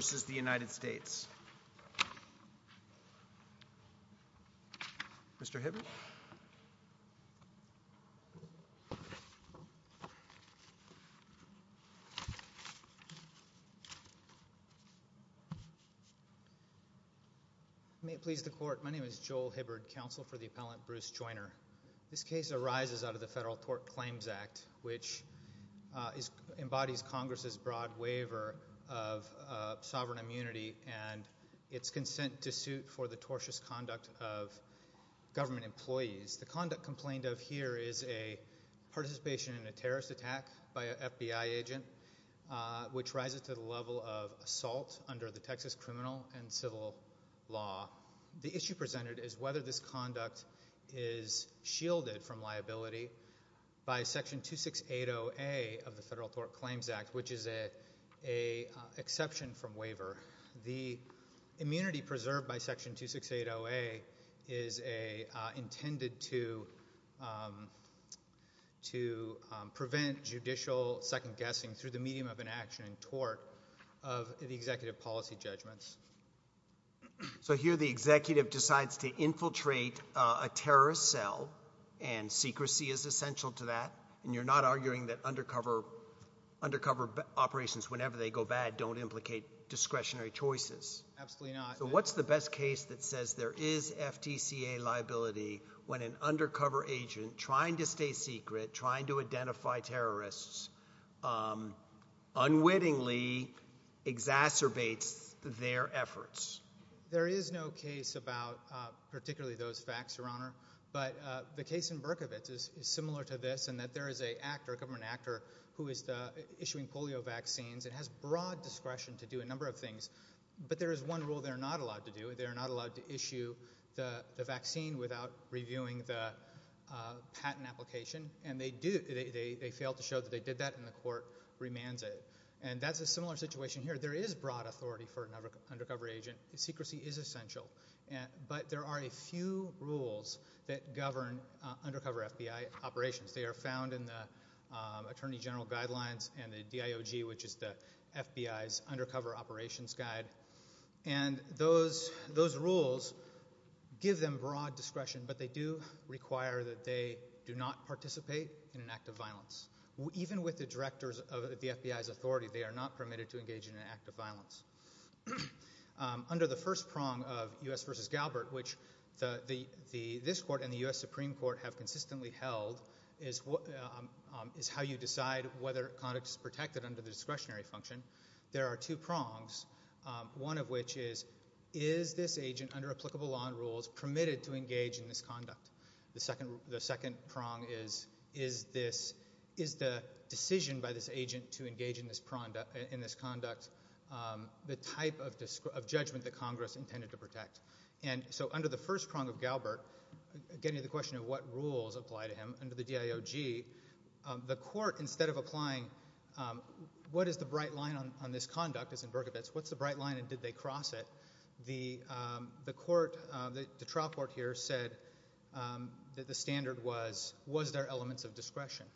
This case arises out of the Federal Tort Claims Act, which embodies Congress's broad waiver of sovereign immunity and its consent to suit for the tortious conduct of government employees. The conduct complained of here is a participation in a terrorist attack by an FBI agent, which rises to the level of assault under the Texas criminal and civil law. The issue presented is whether this conduct is shielded from liability by Section 2680A of the Federal Tort Claims Act, which is an exception from waiver. The immunity preserved by Section 2680A is intended to prevent judicial second-guessing through the medium of an action in tort of the executive policy judgments. So here the executive decides to infiltrate a terrorist cell, and secrecy is essential to that? And you're not arguing that undercover operations, whenever they go bad, don't implicate discretionary choices? Absolutely not. So what's the best case that says there is FTCA liability when an undercover agent trying to stay secret, trying to identify terrorists, unwittingly exacerbates their efforts? There is no case about particularly those facts, Your Honor. But the case in Berkovitz is similar to this, in that there is a government actor who is issuing polio vaccines and has broad discretion to do a number of things. But there is one rule they're not allowed to do. They're not allowed to issue the vaccine without reviewing the patent application. And they fail to show that they did that, and the court remands it. And that's a similar situation here. There is broad authority for an undercover agent. Secrecy is essential. But there are a few rules that govern undercover FBI operations. They are found in the Attorney General Guidelines and the DIOG, which is the FBI's Undercover Operations Guide. And those rules give them broad discretion, but they do require that they do not participate in an act of violence. Even with the directors of the FBI's authority, they are not permitted to engage in an act of violence. Under the first prong of U.S. v. Galbert, which this Court and the U.S. Supreme Court have consistently held, is how you decide whether conduct is protected under the discretionary function. There are two prongs, one of which is, is this agent under applicable law and rules permitted to engage in this conduct? The second prong is, is the decision by this agent to engage in this conduct the type of judgment that Congress intended to protect? And so, under the first prong of Galbert, getting to the question of what rules apply to him, under the DIOG, the Court, instead of applying what is the bright line on this conduct as in Berkowitz, what's the bright line and did they cross it? The Court, the trial court here, said that the standard was, was there elements of discretion?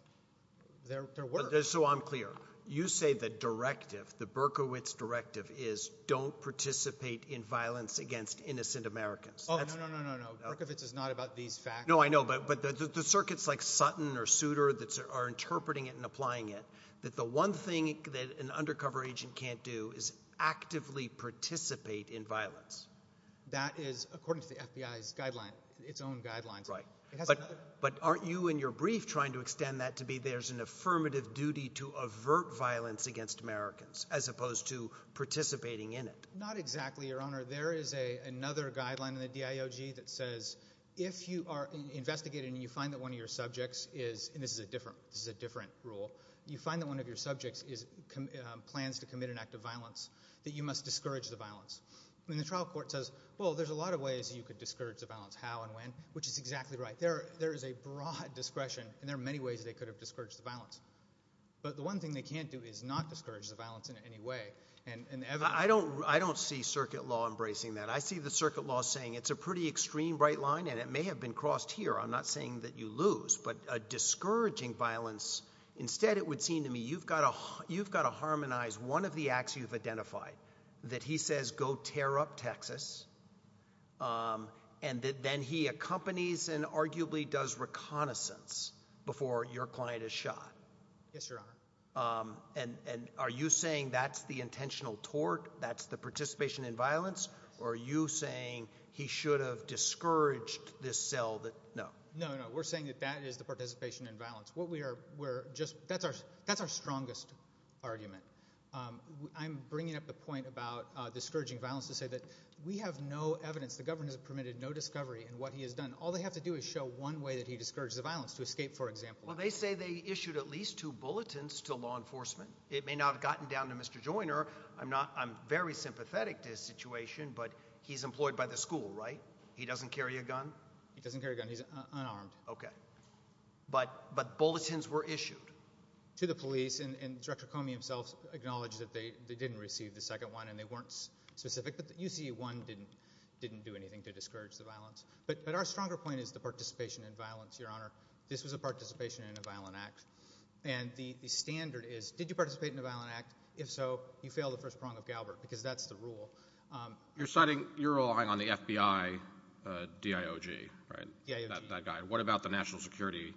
There were. So I'm clear. You say the directive, the Berkowitz directive is, don't participate in violence against innocent Americans. Oh, no, no, no, Berkowitz is not about these facts. No, I know, but the circuits like Sutton or Souter that are interpreting it and applying it, that the one thing that an undercover agent can't do is actively participate in violence. That is according to the FBI's guideline, its own guidelines. Right. But, but aren't you in your brief trying to extend that to be there's an affirmative duty to avert violence against Americans as opposed to participating in it? Not exactly, Your Honor. There is a, another guideline in the DIOG that says if you are investigating and you find that one of your subjects is, plans to commit an act of violence, that you must discourage the violence. And the trial court says, well, there's a lot of ways you could discourage the violence. How and when? Which is exactly right. There, there is a broad discretion and there are many ways they could have discouraged the violence. But the one thing they can't do is not discourage the violence in any way. And I don't, I don't see circuit law embracing that. I see the circuit law saying it's a pretty extreme bright line and it may have been crossed here. I'm not saying that you lose, but a discouraging violence, instead it would seem to me you've got to, you've got to harmonize one of the acts you've identified, that he says go tear up Texas, um, and then he accompanies and arguably does reconnaissance before your client is shot. Yes, Your Honor. Um, and, and are you saying that's the intentional tort? That's the participation in violence? Or are you saying he should have discouraged this cell that, no, no, no. We're saying that that is the participation in violence. What we are, we're just, that's our, that's our strongest argument. Um, I'm bringing up the point about discouraging violence to say that we have no evidence. The government has permitted no discovery in what he has done. All they have to do is show one way that he discouraged the violence to escape, for example. Well, they say they issued at least two bulletins to law enforcement. It may not have gotten down to Mr. Joyner. I'm not, I'm very sympathetic to his situation, but he's employed by the school, right? He doesn't carry a gun? He doesn't carry a gun. He's unarmed. Okay. But, but bulletins were issued. To the police and, and Director Comey himself acknowledged that they, they didn't receive the second one and they weren't specific, but the UC one didn't, didn't do anything to discourage the violence. But our stronger point is the participation in violence. Your Honor, this was a participation in a violent act and the standard is, did you participate in a violent act? If so, you fail the first prong of Galbert because that's the rule. You're citing, you're relying on the FBI, uh, DIOG, right? Yeah. That guy. What about the national security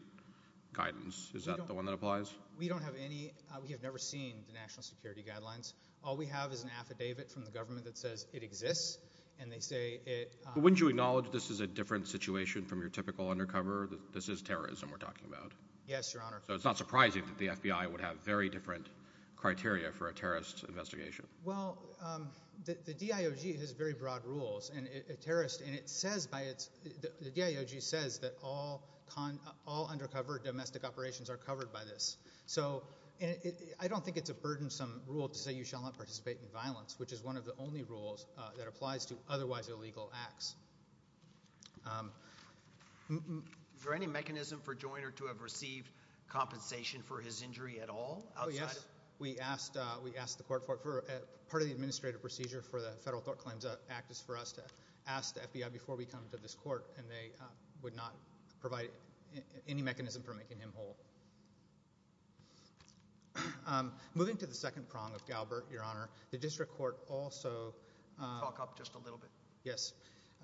guidance? Is that the one that applies? We don't have any, uh, we have never seen the national security guidelines. All we have is an affidavit from the government that says it exists and they say it, uh, wouldn't you acknowledge this is a different situation from your typical undercover that this is terrorism we're talking about? Yes, Your Honor. So it's not surprising that the FBI would have very different criteria for a terrorist investigation. Well, um, the, the DIOG has very broad rules and a terrorist and it says by its, the DIOG says that all con, all undercover domestic operations are covered by this. So I don't think it's a burdensome rule to say you shall not participate in violence, which is one of the only rules that applies to otherwise illegal acts. Um, is there any mechanism for Joyner to have received compensation for his injury at all? Oh, yes. We asked, uh, we asked the court for it for part of the administrative procedure for the federal thought claims act is for us to ask the FBI before we come to this court and they, uh, would not provide any mechanism for making him whole. Um, moving to the second prong of Galbert, Your Honor, the district court also, uh, talk up just a little bit. Yes.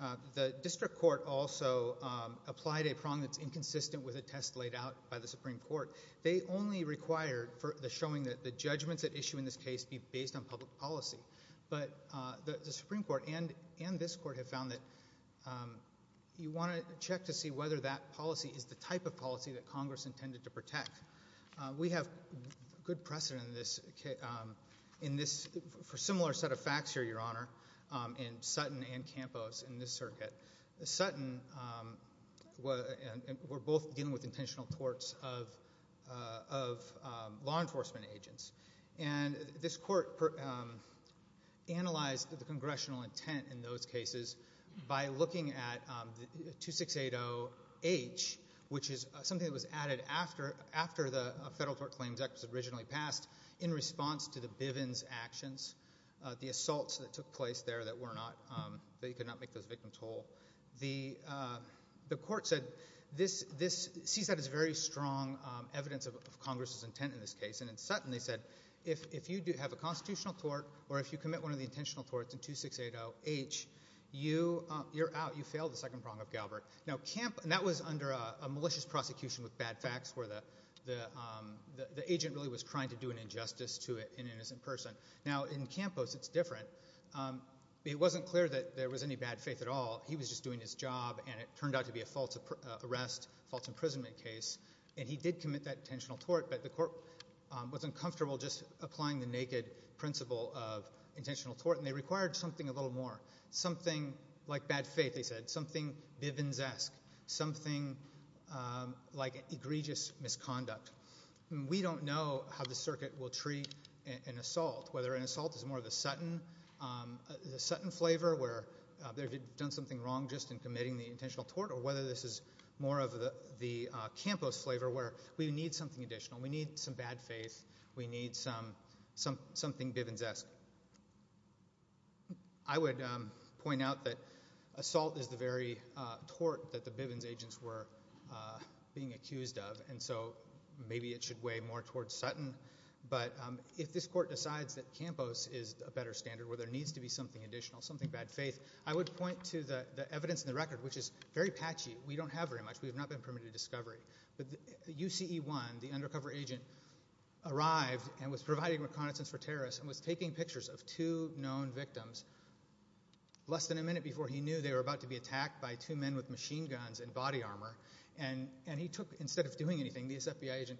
Uh, the district court also, um, applied a prong that's inconsistent with a test laid out by the Supreme Court. They only required for the showing that the judgments at issue in this case be based on public policy, but, uh, the Supreme Court and, and this court have found that, um, you want to check to see whether that policy is the type of policy that Congress intended to protect. Uh, we have good precedent in this case, um, in this for similar set of facts here, Your Honor, in this circuit, the Sutton, um, were, and we're both dealing with intentional torts of, uh, of, um, law enforcement agents and this court, um, analyzed the congressional intent in those cases by looking at, um, the 2680 H, which is something that was added after, after the federal tort claims act was originally passed in response to the Bivens actions. Uh, the assaults that took place there that were not, um, that you could not make those victims whole. The, uh, the court said this, this sees that as very strong, um, evidence of, of Congress's intent in this case. And in Sutton, they said if, if you do have a constitutional tort or if you commit one of the intentional torts in 2680 H, you, uh, you're out, you failed the second prong of Galbert. Now Camp, and that was under a, a malicious prosecution with bad facts where the, the, um, the, the agent really was trying to do an injustice to an innocent person. Now in Campos, it's different, um, but it wasn't clear that there was any bad faith at all. He was just doing his job and it turned out to be a false arrest, false imprisonment case. And he did commit that intentional tort, but the court, um, was uncomfortable just applying the naked principle of intentional tort and they required something a little more, something like bad faith. They said something Bivens-esque, something, um, like egregious misconduct. We don't know how the circuit will treat an assault, whether an assault is more of a Sutton, um, the Sutton flavor where they've done something wrong just in committing the intentional tort or whether this is more of the, the, uh, Campos flavor where we need something additional. We need some bad faith. We need some, some, something Bivens-esque. I would, um, point out that assault is the very, uh, tort that the Bivens agents were, uh, being accused of and so maybe it should weigh more towards Sutton, but, um, if this court decides that Campos is a better standard where there needs to be something additional, something bad faith, I would point to the, the evidence in the record, which is very patchy. We don't have very much. We have not been permitted to discovery, but the UCE1, the undercover agent arrived and was providing reconnaissance for terrorists and was taking pictures of two known victims less than a minute before he knew they were about to be attacked by two men with machine guns and body armor and, and he took, instead of doing anything, the FBI agent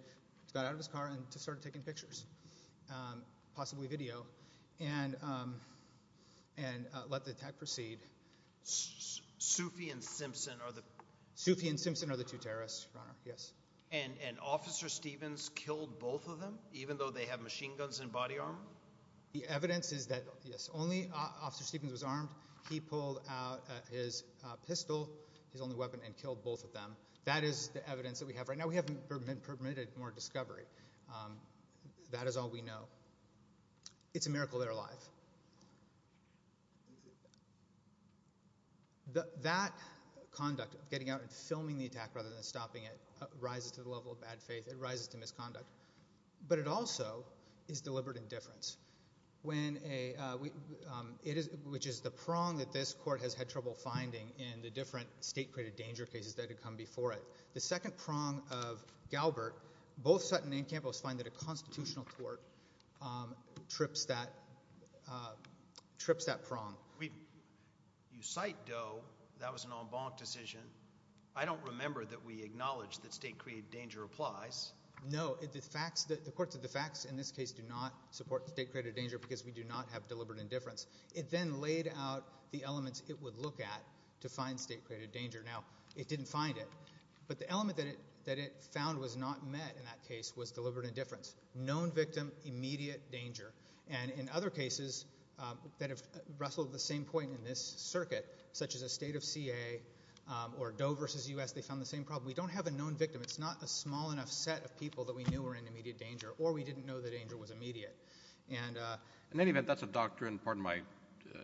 got out of his car and just started taking pictures, um, possibly video and, um, and, uh, let the attack proceed. Sufi and Simpson are the, Sufi and Simpson are the two terrorists, Your Honor, yes. And, and Officer Stevens killed both of them even though they have machine guns and body armor? The evidence is that, yes, only Officer Stevens was armed. He pulled out his, uh, pistol, his only weapon, and killed both of them. That is the evidence that we have right now. We haven't been permitted more discovery, um, that is all we know. It's a miracle they're alive. That, that conduct of getting out and filming the attack rather than stopping it, uh, rises to the level of bad faith, it rises to misconduct, but it also is deliberate indifference. When a, uh, we, um, it is, which is the prong that this court has had trouble finding in the different state-created danger cases that had come before it. The second prong of Galbert, both Sutton and Campos find that a constitutional court, um, trips that, uh, trips that prong. We, you cite Doe, that was an en banc decision. I don't remember that we acknowledged that state-created danger applies. No, the facts, the court said the facts in this case do not support state-created danger because we do not have deliberate indifference. It then laid out the elements it would look at to find state-created danger. Now, it didn't find it, but the element that it, that it found was not met in that case was deliberate indifference. Known victim, immediate danger. And in other cases, um, that have wrestled the same point in this circuit, such as a state of CA, um, or Doe versus U.S., they found the same problem. We don't have a known victim. It's not a small enough set of people that we knew were in immediate danger or we didn't know the danger was immediate. And, uh... In any event, that's a doctrine, pardon my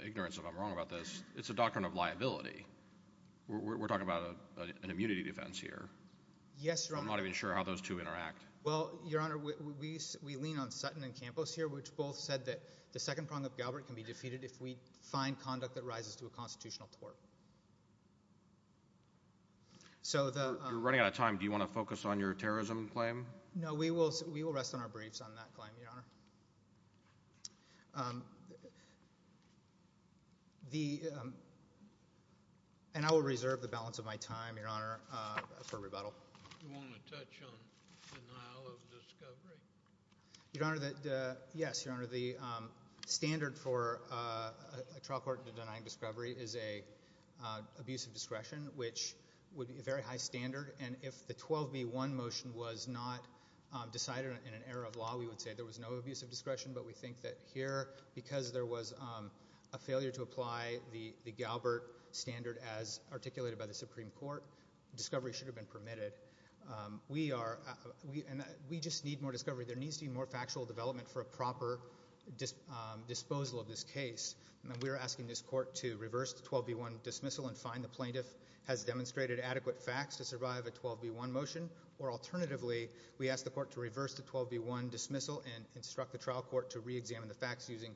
ignorance if I'm wrong about this, it's a doctrine of liability. We're talking about an immunity defense here. Yes, Your Honor. I'm not even sure how those two interact. Well, Your Honor, we lean on Sutton and Campos here, which both said that the second prong of Galbraith can be defeated if we find conduct that rises to a constitutional tort. So the, um... You're running out of time. Do you want to focus on your terrorism claim? No, we will rest on our briefs on that claim, Your Honor. Um, the, um... And I will reserve the balance of my time, Your Honor, for rebuttal. You want to touch on denial of discovery? Your Honor, the, uh... Yes, Your Honor, the standard for a trial court denying discovery is an abuse of discretion, which would be a very high standard. And if the 12b-1 motion was not decided in an error of law, we would say there was no abuse of discretion. But we think that here, because there was a failure to apply the Galbraith standard as articulated by the Supreme Court, discovery should have been permitted. We are... We just need more discovery. There needs to be more factual development for a proper disposal of this case. We're asking this court to reverse the 12b-1 dismissal and find the plaintiff has demonstrated adequate facts to survive a 12b-1 motion, or alternatively, we ask the court to reverse the 12b-1 dismissal and instruct the trial court to reexamine the facts using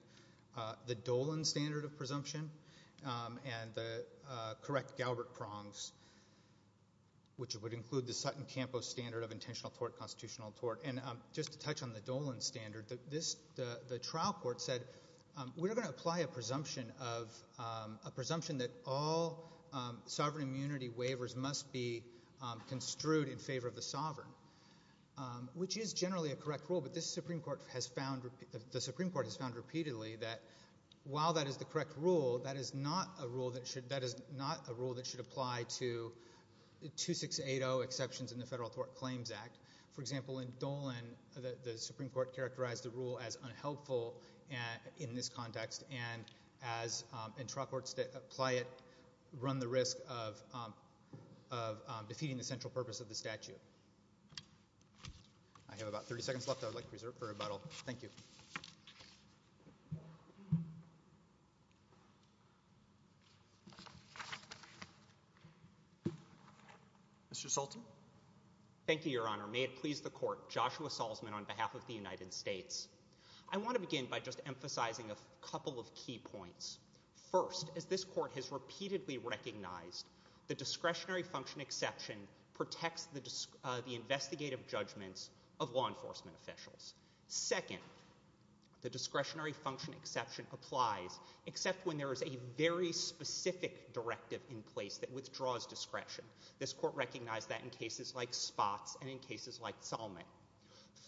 the Dolan standard of presumption and the correct Galbraith prongs, which would include the Sutton-Campos standard of intentional tort, constitutional tort. And just to touch on the Dolan standard, the trial court said we're going to apply a presumption of... a presumption that all sovereign immunity waivers must be construed in favor of the sovereign, which is generally a correct rule. But this Supreme Court has found... the Supreme Court has found repeatedly that while that is the correct rule, that is not a rule that should apply to 2680 exceptions in the Federal Tort Claims Act. For example, in Dolan, the Supreme Court characterized the rule as unhelpful in this context, and trial courts that apply it run the risk of defeating the central purpose of the statute. I have about 30 seconds left. I would like to reserve it for rebuttal. Thank you. Mr. Salton. Thank you, Your Honor. May it please the court, Joshua Salzman on behalf of the United States. I want to begin by just emphasizing a couple of key points. First, as this court has repeatedly recognized, the discretionary function exception protects the investigative judgments of law enforcement officials. Second, the discretionary function exception applies except when there is a very specific directive in place that withdraws discretion. This court recognized that in cases like Spots and in cases like Salmon.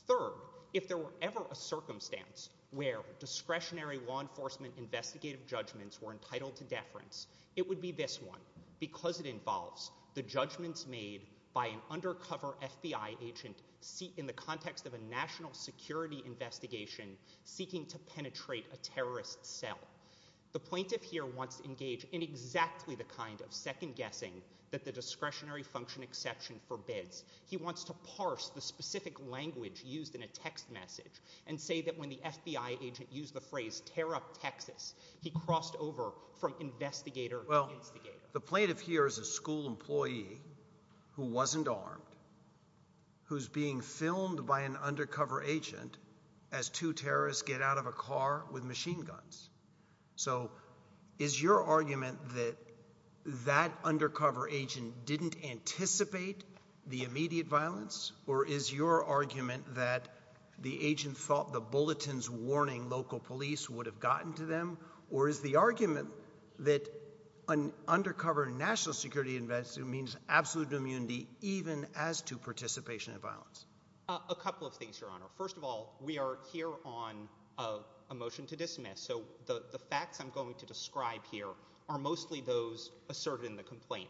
Third, if there were ever a circumstance where discretionary law enforcement investigative judgments were entitled to deference, it would be this one, because it involves the judgments made by an undercover FBI agent in the context of a national security investigation seeking to penetrate a terrorist cell. The plaintiff here wants to engage in exactly the kind of second-guessing that the discretionary function exception forbids. He wants to parse the specific language used in a text message and say that when the FBI agent used the phrase, tear up Texas, he crossed over from investigator to investigator. The plaintiff here is a school employee who wasn't armed, who's being filmed by an undercover agent as two terrorists get out of a car with machine guns. So is your argument that that undercover agent didn't anticipate the immediate violence, or is your argument that the agent thought the bulletins warning local police would have gotten to them, or is the argument that an undercover national security investigation means absolute immunity even as to participation in violence? A couple of things, Your Honor. First of all, we are here on a motion to dismiss, so the facts I'm going to describe here are mostly those asserted in the complaint.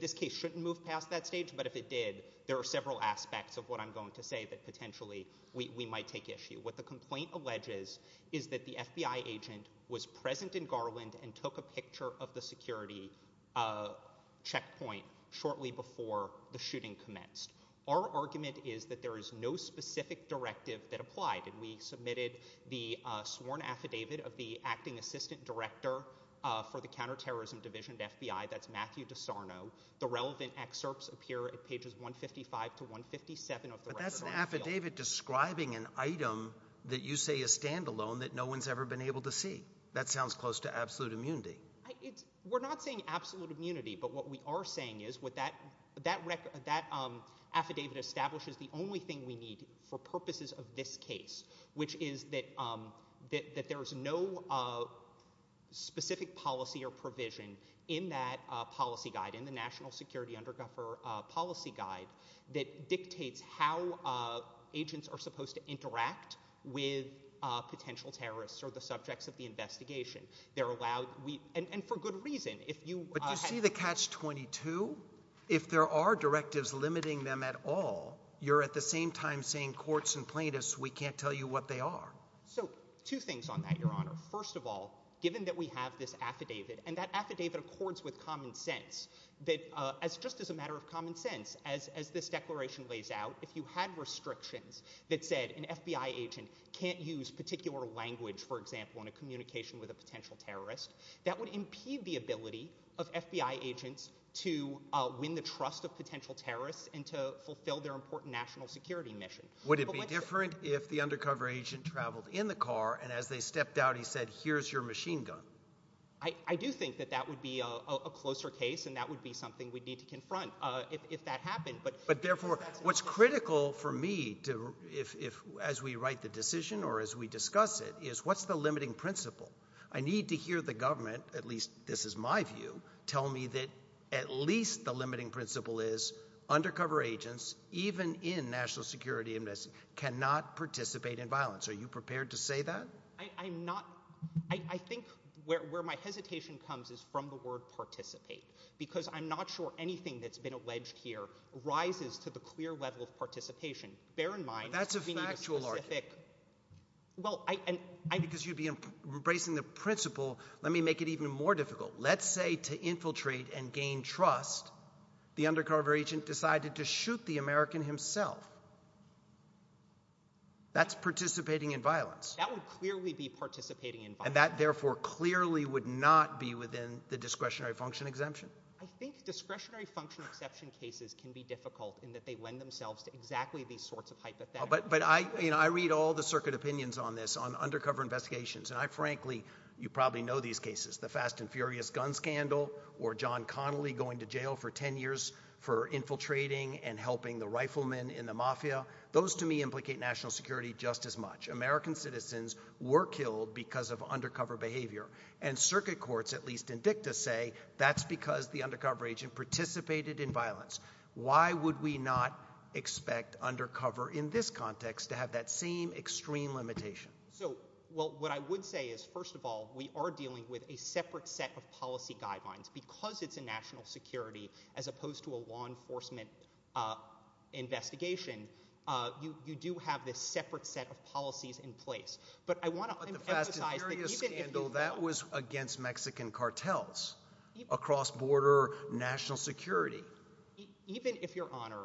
This case shouldn't move past that stage, but if it did, there are several aspects of what I'm going to say that potentially we might take issue. What the complaint alleges is that the FBI agent was present in Garland and took a picture of the security checkpoint shortly before the shooting commenced. Our argument is that there is no specific directive that applied, and we submitted the sworn affidavit of the acting assistant director for the counterterrorism division at FBI. That's Matthew DeSarno. The relevant excerpts appear at pages 155 to 157 of the record. That's an affidavit describing an item that you say is standalone that no one has ever been able to see. That sounds close to absolute immunity. We're not saying absolute immunity, but what we are saying is that affidavit establishes the only thing we need for purposes of this case, which is that there is no specific policy or provision in that policy guide, in the National Security Undercover Policy Guide, that dictates how agents are supposed to interact with potential terrorists or the subjects of the investigation. And for good reason. But do you see the catch-22? If there are directives limiting them at all, you're at the same time saying courts and plaintiffs, we can't tell you what they are. Two things on that, Your Honor. First of all, given that we have this affidavit, and that affidavit accords with common sense, just as a matter of common sense, as this declaration lays out, if you had restrictions that said an FBI agent can't use particular language, for example, in a communication with a potential terrorist, that would impede the ability of FBI agents to win the trust of potential terrorists and to fulfill their important national security mission. Would it be different if the undercover agent traveled in the car, and as they stepped out he said, here's your machine gun? I do think that that would be a closer case, and that would be something we'd need to confront if that happened. But therefore, what's critical for me, as we write the decision or as we discuss it, is what's the limiting principle? I need to hear the government, at least this is my view, tell me that at least the limiting principle is undercover agents, even in national security, cannot participate in violence. Are you prepared to say that? I'm not. I think where my hesitation comes is from the word participate, because I'm not sure anything that's been alleged here rises to the clear level of participation. Bear in mind— But that's a factual argument. Well, I— Because you'd be embracing the principle, let me make it even more difficult. Let's say to infiltrate and gain trust, the undercover agent decided to shoot the American himself. That's participating in violence. That would clearly be participating in violence. And that, therefore, clearly would not be within the discretionary function exemption? I think discretionary function exemption cases can be difficult in that they lend themselves to exactly these sorts of hypotheticals. But I read all the circuit opinions on this, on undercover investigations, and I frankly—you probably know these cases, the Fast and Furious gun scandal or John Connolly going to jail for 10 years for infiltrating and helping the riflemen in the mafia. Those, to me, implicate national security just as much. American citizens were killed because of undercover behavior. And circuit courts, at least in dicta, say that's because the undercover agent participated in violence. Why would we not expect undercover in this context to have that same extreme limitation? Well, what I would say is, first of all, we are dealing with a separate set of policy guidelines. Because it's a national security as opposed to a law enforcement investigation, you do have this separate set of policies in place. But I want to emphasize— But the Fast and Furious scandal, that was against Mexican cartels, across-border national security. Even if Your Honor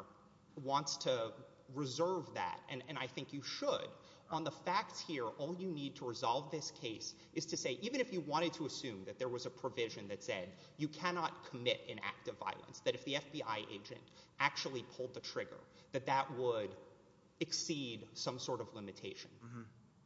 wants to reserve that, and I think you should, on the facts here, all you need to resolve this case is to say, even if you wanted to assume that there was a provision that said you cannot commit an act of violence, that if the FBI agent actually pulled the trigger, that that would exceed some sort of limitation.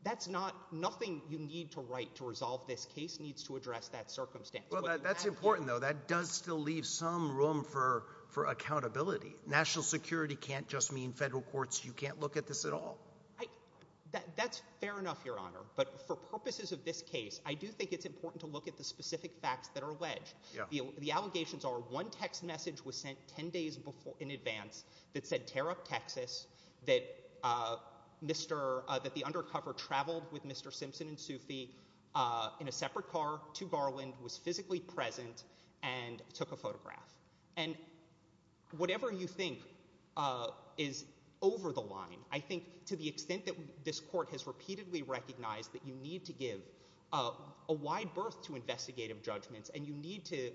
That's not—nothing you need to write to resolve this case needs to address that circumstance. Well, that's important, though. That does still leave some room for accountability. National security can't just mean federal courts, you can't look at this at all. That's fair enough, Your Honor. But for purposes of this case, I do think it's important to look at the specific facts that are alleged. The allegations are one text message was sent ten days in advance that said tear up Texas, that the undercover traveled with Mr. Simpson and Sufi in a separate car to Garland, was physically present, and took a photograph. And whatever you think is over the line, I think to the extent that this court has repeatedly recognized that you need to give a wide berth to investigative judgments and you need to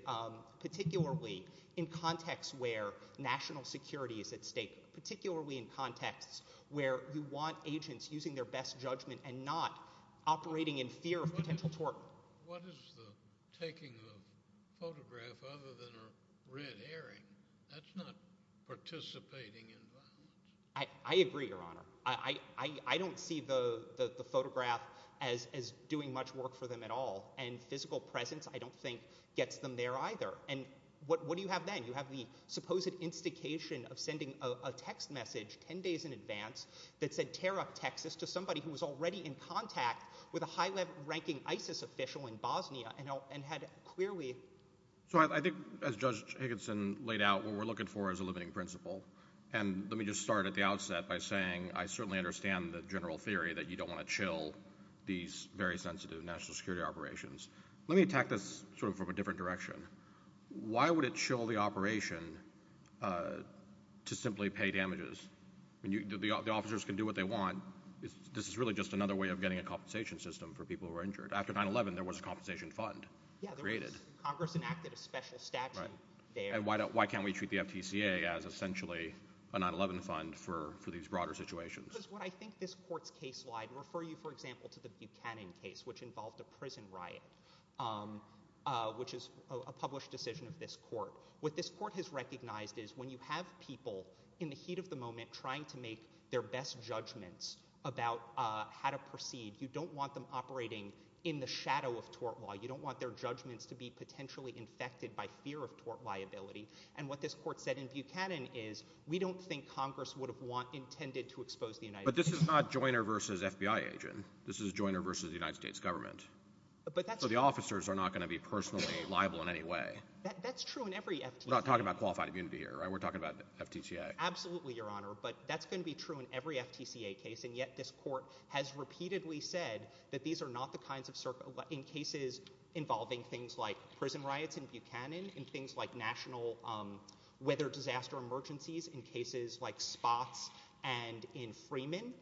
particularly in contexts where national security is at stake, particularly in contexts where you want agents using their best judgment and not operating in fear of potential tort. What is the taking of a photograph other than a red earring? That's not participating in violence. I agree, Your Honor. I don't see the photograph as doing much work for them at all. And physical presence, I don't think, gets them there either. And what do you have then? You have the supposed instigation of sending a text message ten days in advance that said tear up Texas to somebody who was already in contact with a high-ranking ISIS official in Bosnia and had clearly— So I think, as Judge Higginson laid out, what we're looking for is a limiting principle. And let me just start at the outset by saying I certainly understand the general theory that you don't want to chill these very sensitive national security operations. Let me attack this sort of from a different direction. Why would it chill the operation to simply pay damages? The officers can do what they want. This is really just another way of getting a compensation system for people who are injured. After 9-11, there was a compensation fund created. Congress enacted a special statute there. And why can't we treat the FTCA as essentially a 9-11 fund for these broader situations? Because what I think this court's case—I'd refer you, for example, to the Buchanan case, which involved a prison riot, which is a published decision of this court. What this court has recognized is when you have people in the heat of the moment trying to make their best judgments about how to proceed, you don't want them operating in the shadow of tort law. You don't want their judgments to be potentially infected by fear of tort liability. And what this court said in Buchanan is, we don't think Congress would have intended to expose the United States. But this is not Joyner v. FBI agent. This is Joyner v. the United States government. But that's true. So the officers are not going to be personally liable in any way. That's true in every FTCA. We're not talking about qualified immunity here, right? We're talking about FTCA. Absolutely, Your Honor. But that's going to be true in every FTCA case. And yet this court has repeatedly said that these are not the kinds of— in cases involving things like prison riots in Buchanan, in things like national weather disaster emergencies, in cases like Spots and in Freeman,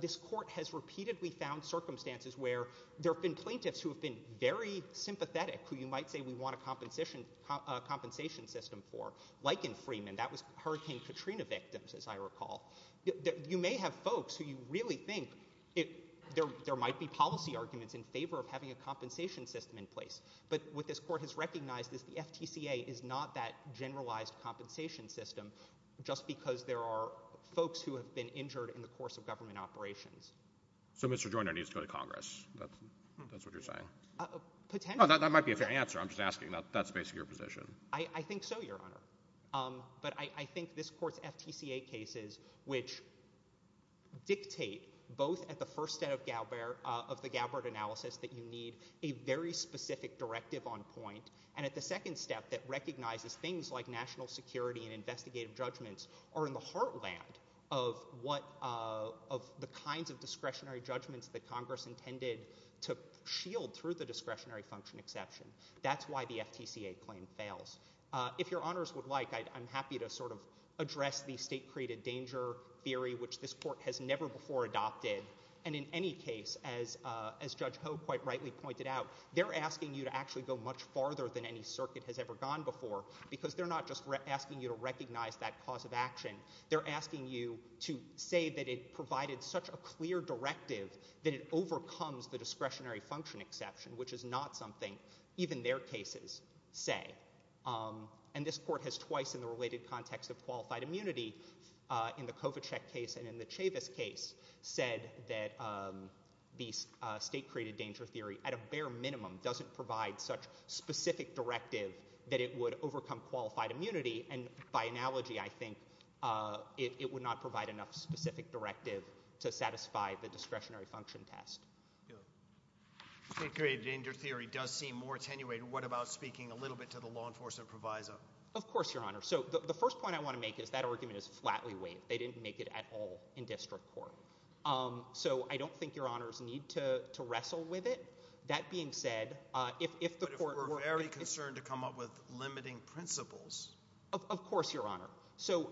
this court has repeatedly found circumstances where there have been plaintiffs who have been very sympathetic, who you might say we want a compensation system for, like in Freeman. That was Hurricane Katrina victims, as I recall. You may have folks who you really think there might be policy arguments in favor of having a compensation system in place. But what this court has recognized is the FTCA is not that generalized compensation system just because there are folks who have been injured in the course of government operations. So Mr. Joyner needs to go to Congress. That's what you're saying. Potentially. That might be a fair answer. I'm just asking. That's basically your position. I think so, Your Honor. But I think this court's FTCA cases, which dictate both at the first step of the Galbert analysis that you need a very specific directive on point, and at the second step that recognizes things like national security and investigative judgments are in the heartland of the kinds of discretionary judgments that Congress intended to shield through the discretionary function exception. That's why the FTCA claim fails. If Your Honors would like, I'm happy to sort of address the state-created danger theory, which this court has never before adopted. And in any case, as Judge Ho quite rightly pointed out, they're asking you to actually go much farther than any circuit has ever gone before because they're not just asking you to recognize that cause of action. They're asking you to say that it provided such a clear directive that it overcomes the discretionary function exception, which is not something even their cases say. And this court has twice, in the related context of qualified immunity, in the Kovacek case and in the Chavis case, said that the state-created danger theory, at a bare minimum, doesn't provide such specific directive that it would overcome qualified immunity. And by analogy, I think, it would not provide enough specific directive to satisfy the discretionary function test. State-created danger theory does seem more attenuated. What about speaking a little bit to the law enforcement proviso? Of course, Your Honor. So the first point I want to make is that argument is flatly waived. They didn't make it at all in district court. So I don't think Your Honors need to wrestle with it. That being said, if the court were... But if we're very concerned to come up with limiting principles... Of course, Your Honor. So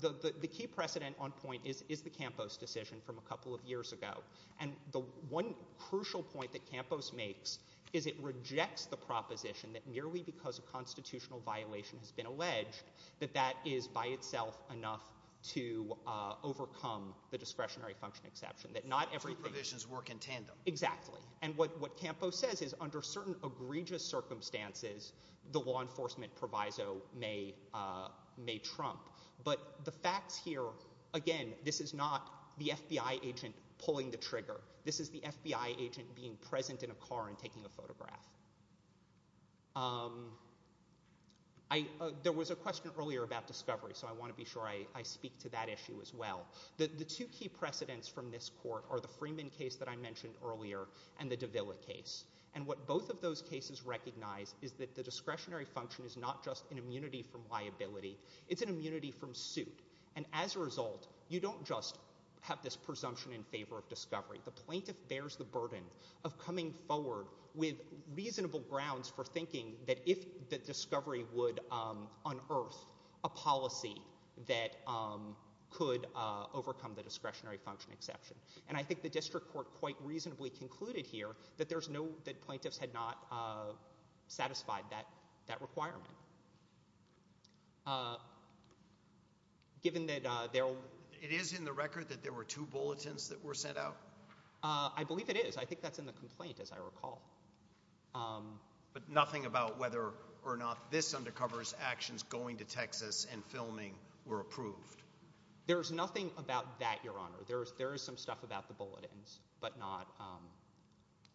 the key precedent on point is the Campos decision from a couple of years ago. And the one crucial point that Campos makes is it rejects the proposition that merely because a constitutional violation has been alleged, that that is by itself enough to overcome the discretionary function exception. That not everything... Two provisions work in tandem. Exactly. And what Campos says is under certain egregious circumstances, the law enforcement proviso may trump. But the facts here, again, this is not the FBI agent pulling the trigger. This is the FBI agent being present in a car and taking a photograph. Um... There was a question earlier about discovery, so I want to be sure I speak to that issue as well. The two key precedents from this court are the Freeman case that I mentioned earlier and the Davila case. And what both of those cases recognize is that the discretionary function is not just an immunity from liability. It's an immunity from suit. And as a result, you don't just have this presumption in favor of discovery. The plaintiff bears the burden of coming forward with reasonable grounds for thinking that if the discovery would unearth a policy that could overcome the discretionary function exception. And I think the district court quite reasonably concluded here that there's no... that plaintiffs had not satisfied that requirement. Uh... Given that there... It is in the record that there were two bulletins that were sent out? I believe it is. I think that's in the complaint, as I recall. Um... But nothing about whether or not this undercovers actions going to Texas and filming were approved? There's nothing about that, Your Honor. There is some stuff about the bulletins, but not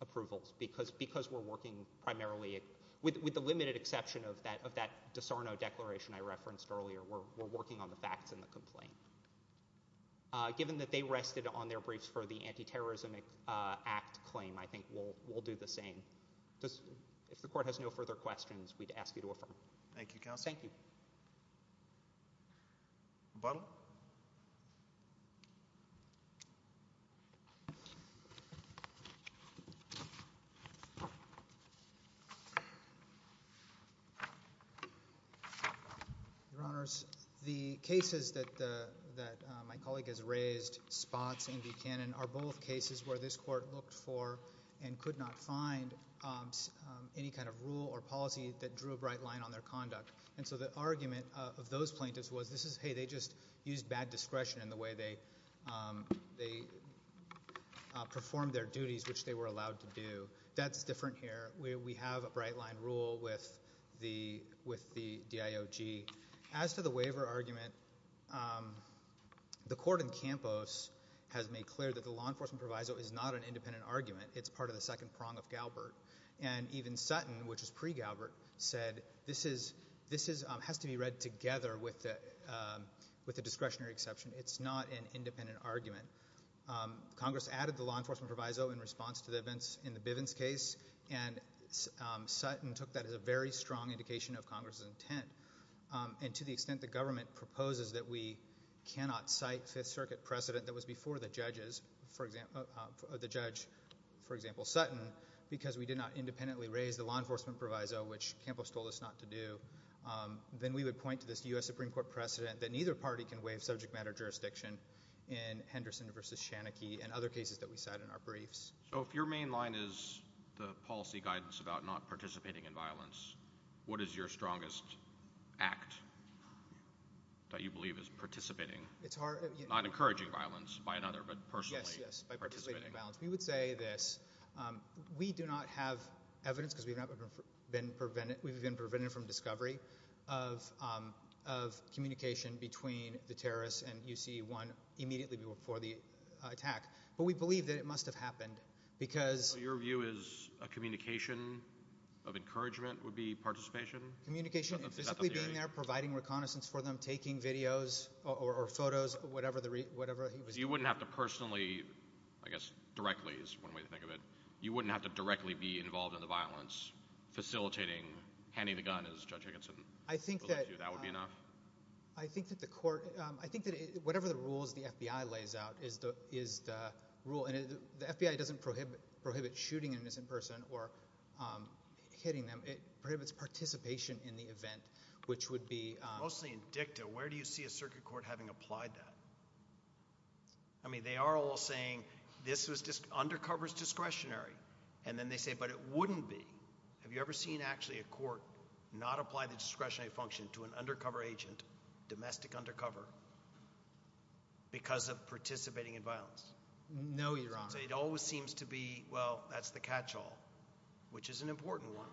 approvals, because we're working primarily... With the limited exception of that DiSarno declaration I referenced earlier, we're working on the facts in the complaint. Given that they rested on their briefs for the Anti-Terrorism Act claim, I think we'll do the same. If the court has no further questions, we'd ask you to affirm. Thank you, Counsel. Thank you. McButtle. Your Honors, the cases that my colleague has raised, Spots and Buchanan, are both cases where this court looked for and could not find any kind of rule or policy that drew a bright line on their conduct. And so the argument of those plaintiffs was, this is, hey, they just used bad discretion in the way they performed their duties, which they were allowed to do. That's different here. We have a bright-line rule with the DIOG. As to the waiver argument, the court in Campos has made clear that the law enforcement proviso is not an independent argument. It's part of the second prong of Galbert. And even Sutton, which is pre-Galbert, said this has to be read together with the discretionary exception. It's not an independent argument. Congress added the law enforcement proviso in response to the events in the Bivens case, and Sutton took that as a very strong indication of Congress's intent. And to the extent the government proposes that we cannot cite Fifth Circuit precedent that was before the judge, for example, Sutton, because we did not independently raise the law enforcement proviso, which Campos told us not to do, then we would point to this U.S. Supreme Court precedent that neither party can waive subject matter jurisdiction in Henderson v. Shanickey and other cases that we cite in our briefs. So if your main line is the policy guidance about not participating in violence, what is your strongest act that you believe is participating? Not encouraging violence by another, but personally participating. Yes, yes, by participating in violence. We would say this. We do not have evidence, because we've been prevented from discovery of communication between the terrorists and U.C.E. 1 immediately before the attack. But we believe that it must have happened, because... So your view is a communication of encouragement would be participation? Communication and physically being there, providing reconnaissance for them, taking videos or photos, whatever he was doing. So you wouldn't have to personally, I guess directly is one way to think of it, you wouldn't have to directly be involved in the violence, facilitating, handing the gun, as Judge Higginson... I think that... That would be enough? I think that the court... I think that whatever the rules the FBI lays out is the rule, and the FBI doesn't prohibit shooting an innocent person or hitting them. It prohibits participation in the event, which would be... Mostly in dicta, where do you see a circuit court having applied that? I mean, they are all saying, this undercovers discretionary. And then they say, but it wouldn't be. Have you ever seen actually a court not apply the discretionary function to an undercover agent, domestic undercover, because of participating in violence? No, Your Honor. So it always seems to be, well, that's the catch-all. Which is an important one.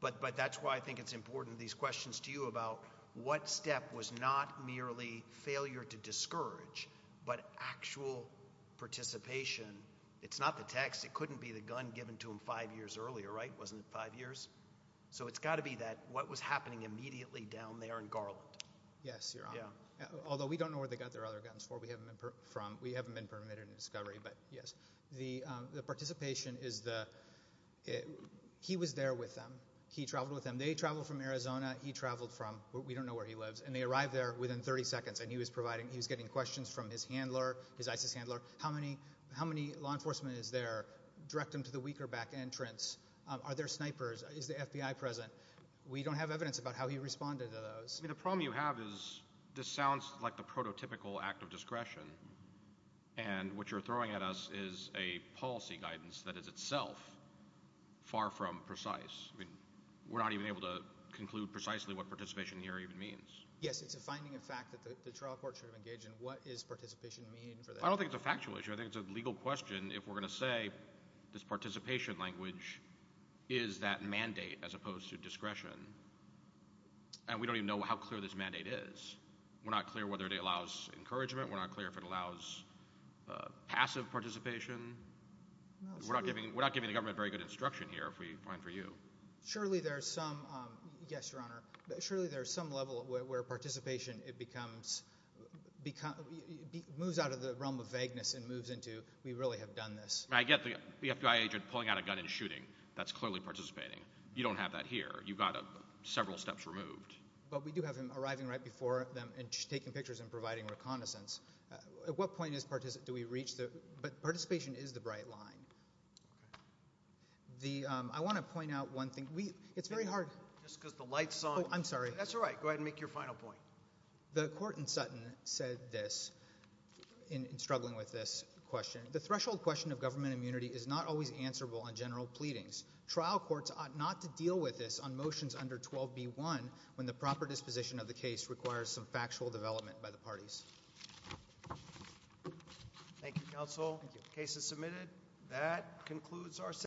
But that's why I think it's important, these questions to you about what step was not merely failure to discourage, but actual participation. It's not the text. It couldn't be the gun given to him five years earlier, right? Wasn't it five years? So it's got to be that, what was happening immediately down there in Garland. Yes, Your Honor. Although we don't know where they got their other guns from. We haven't been permitted in discovery, but yes. The participation is the, he was there with them. He traveled with them. They traveled from Arizona. He traveled from, we don't know where he lives. And they arrived there within 30 seconds. And he was getting questions from his handler, his ISIS handler. How many law enforcement is there? Direct them to the weaker back entrance. Are there snipers? Is the FBI present? We don't have evidence about how he responded to those. The problem you have is, this sounds like the prototypical act of discretion. And what you're throwing at us is a policy guidance that is itself far from precise. I mean, we're not even able to conclude precisely what participation here even means. Yes, it's a finding of fact that the trial court should have engaged in. What does participation mean for them? I don't think it's a factual issue. I think it's a legal question if we're going to say, this participation language is that mandate as opposed to discretion. And we don't even know how clear this mandate is. We're not clear whether it allows encouragement. We're not clear if it allows passive participation. We're not giving the government very good instruction here, if we find for you. Surely there's some, yes, Your Honor. Surely there's some level where participation, it becomes, moves out of the realm of vagueness and moves into, we really have done this. I get the FBI agent pulling out a gun and shooting. That's clearly participating. You don't have that here. You've got several steps removed. But we do have him arriving right before them and taking pictures and providing reconnaissance. At what point do we reach the, but participation is the bright line. I want to point out one thing. It's very hard. Just because the light's on. I'm sorry. That's all right. Go ahead and make your final point. The court in Sutton said this in struggling with this question. The threshold question of government immunity is not always answerable on general pleadings. Trial courts ought not to deal with this on motions under 12B1 when the proper disposition of the case requires some factual development by the parties. Thank you, counsel. Thank you. Case is submitted. That concludes our session.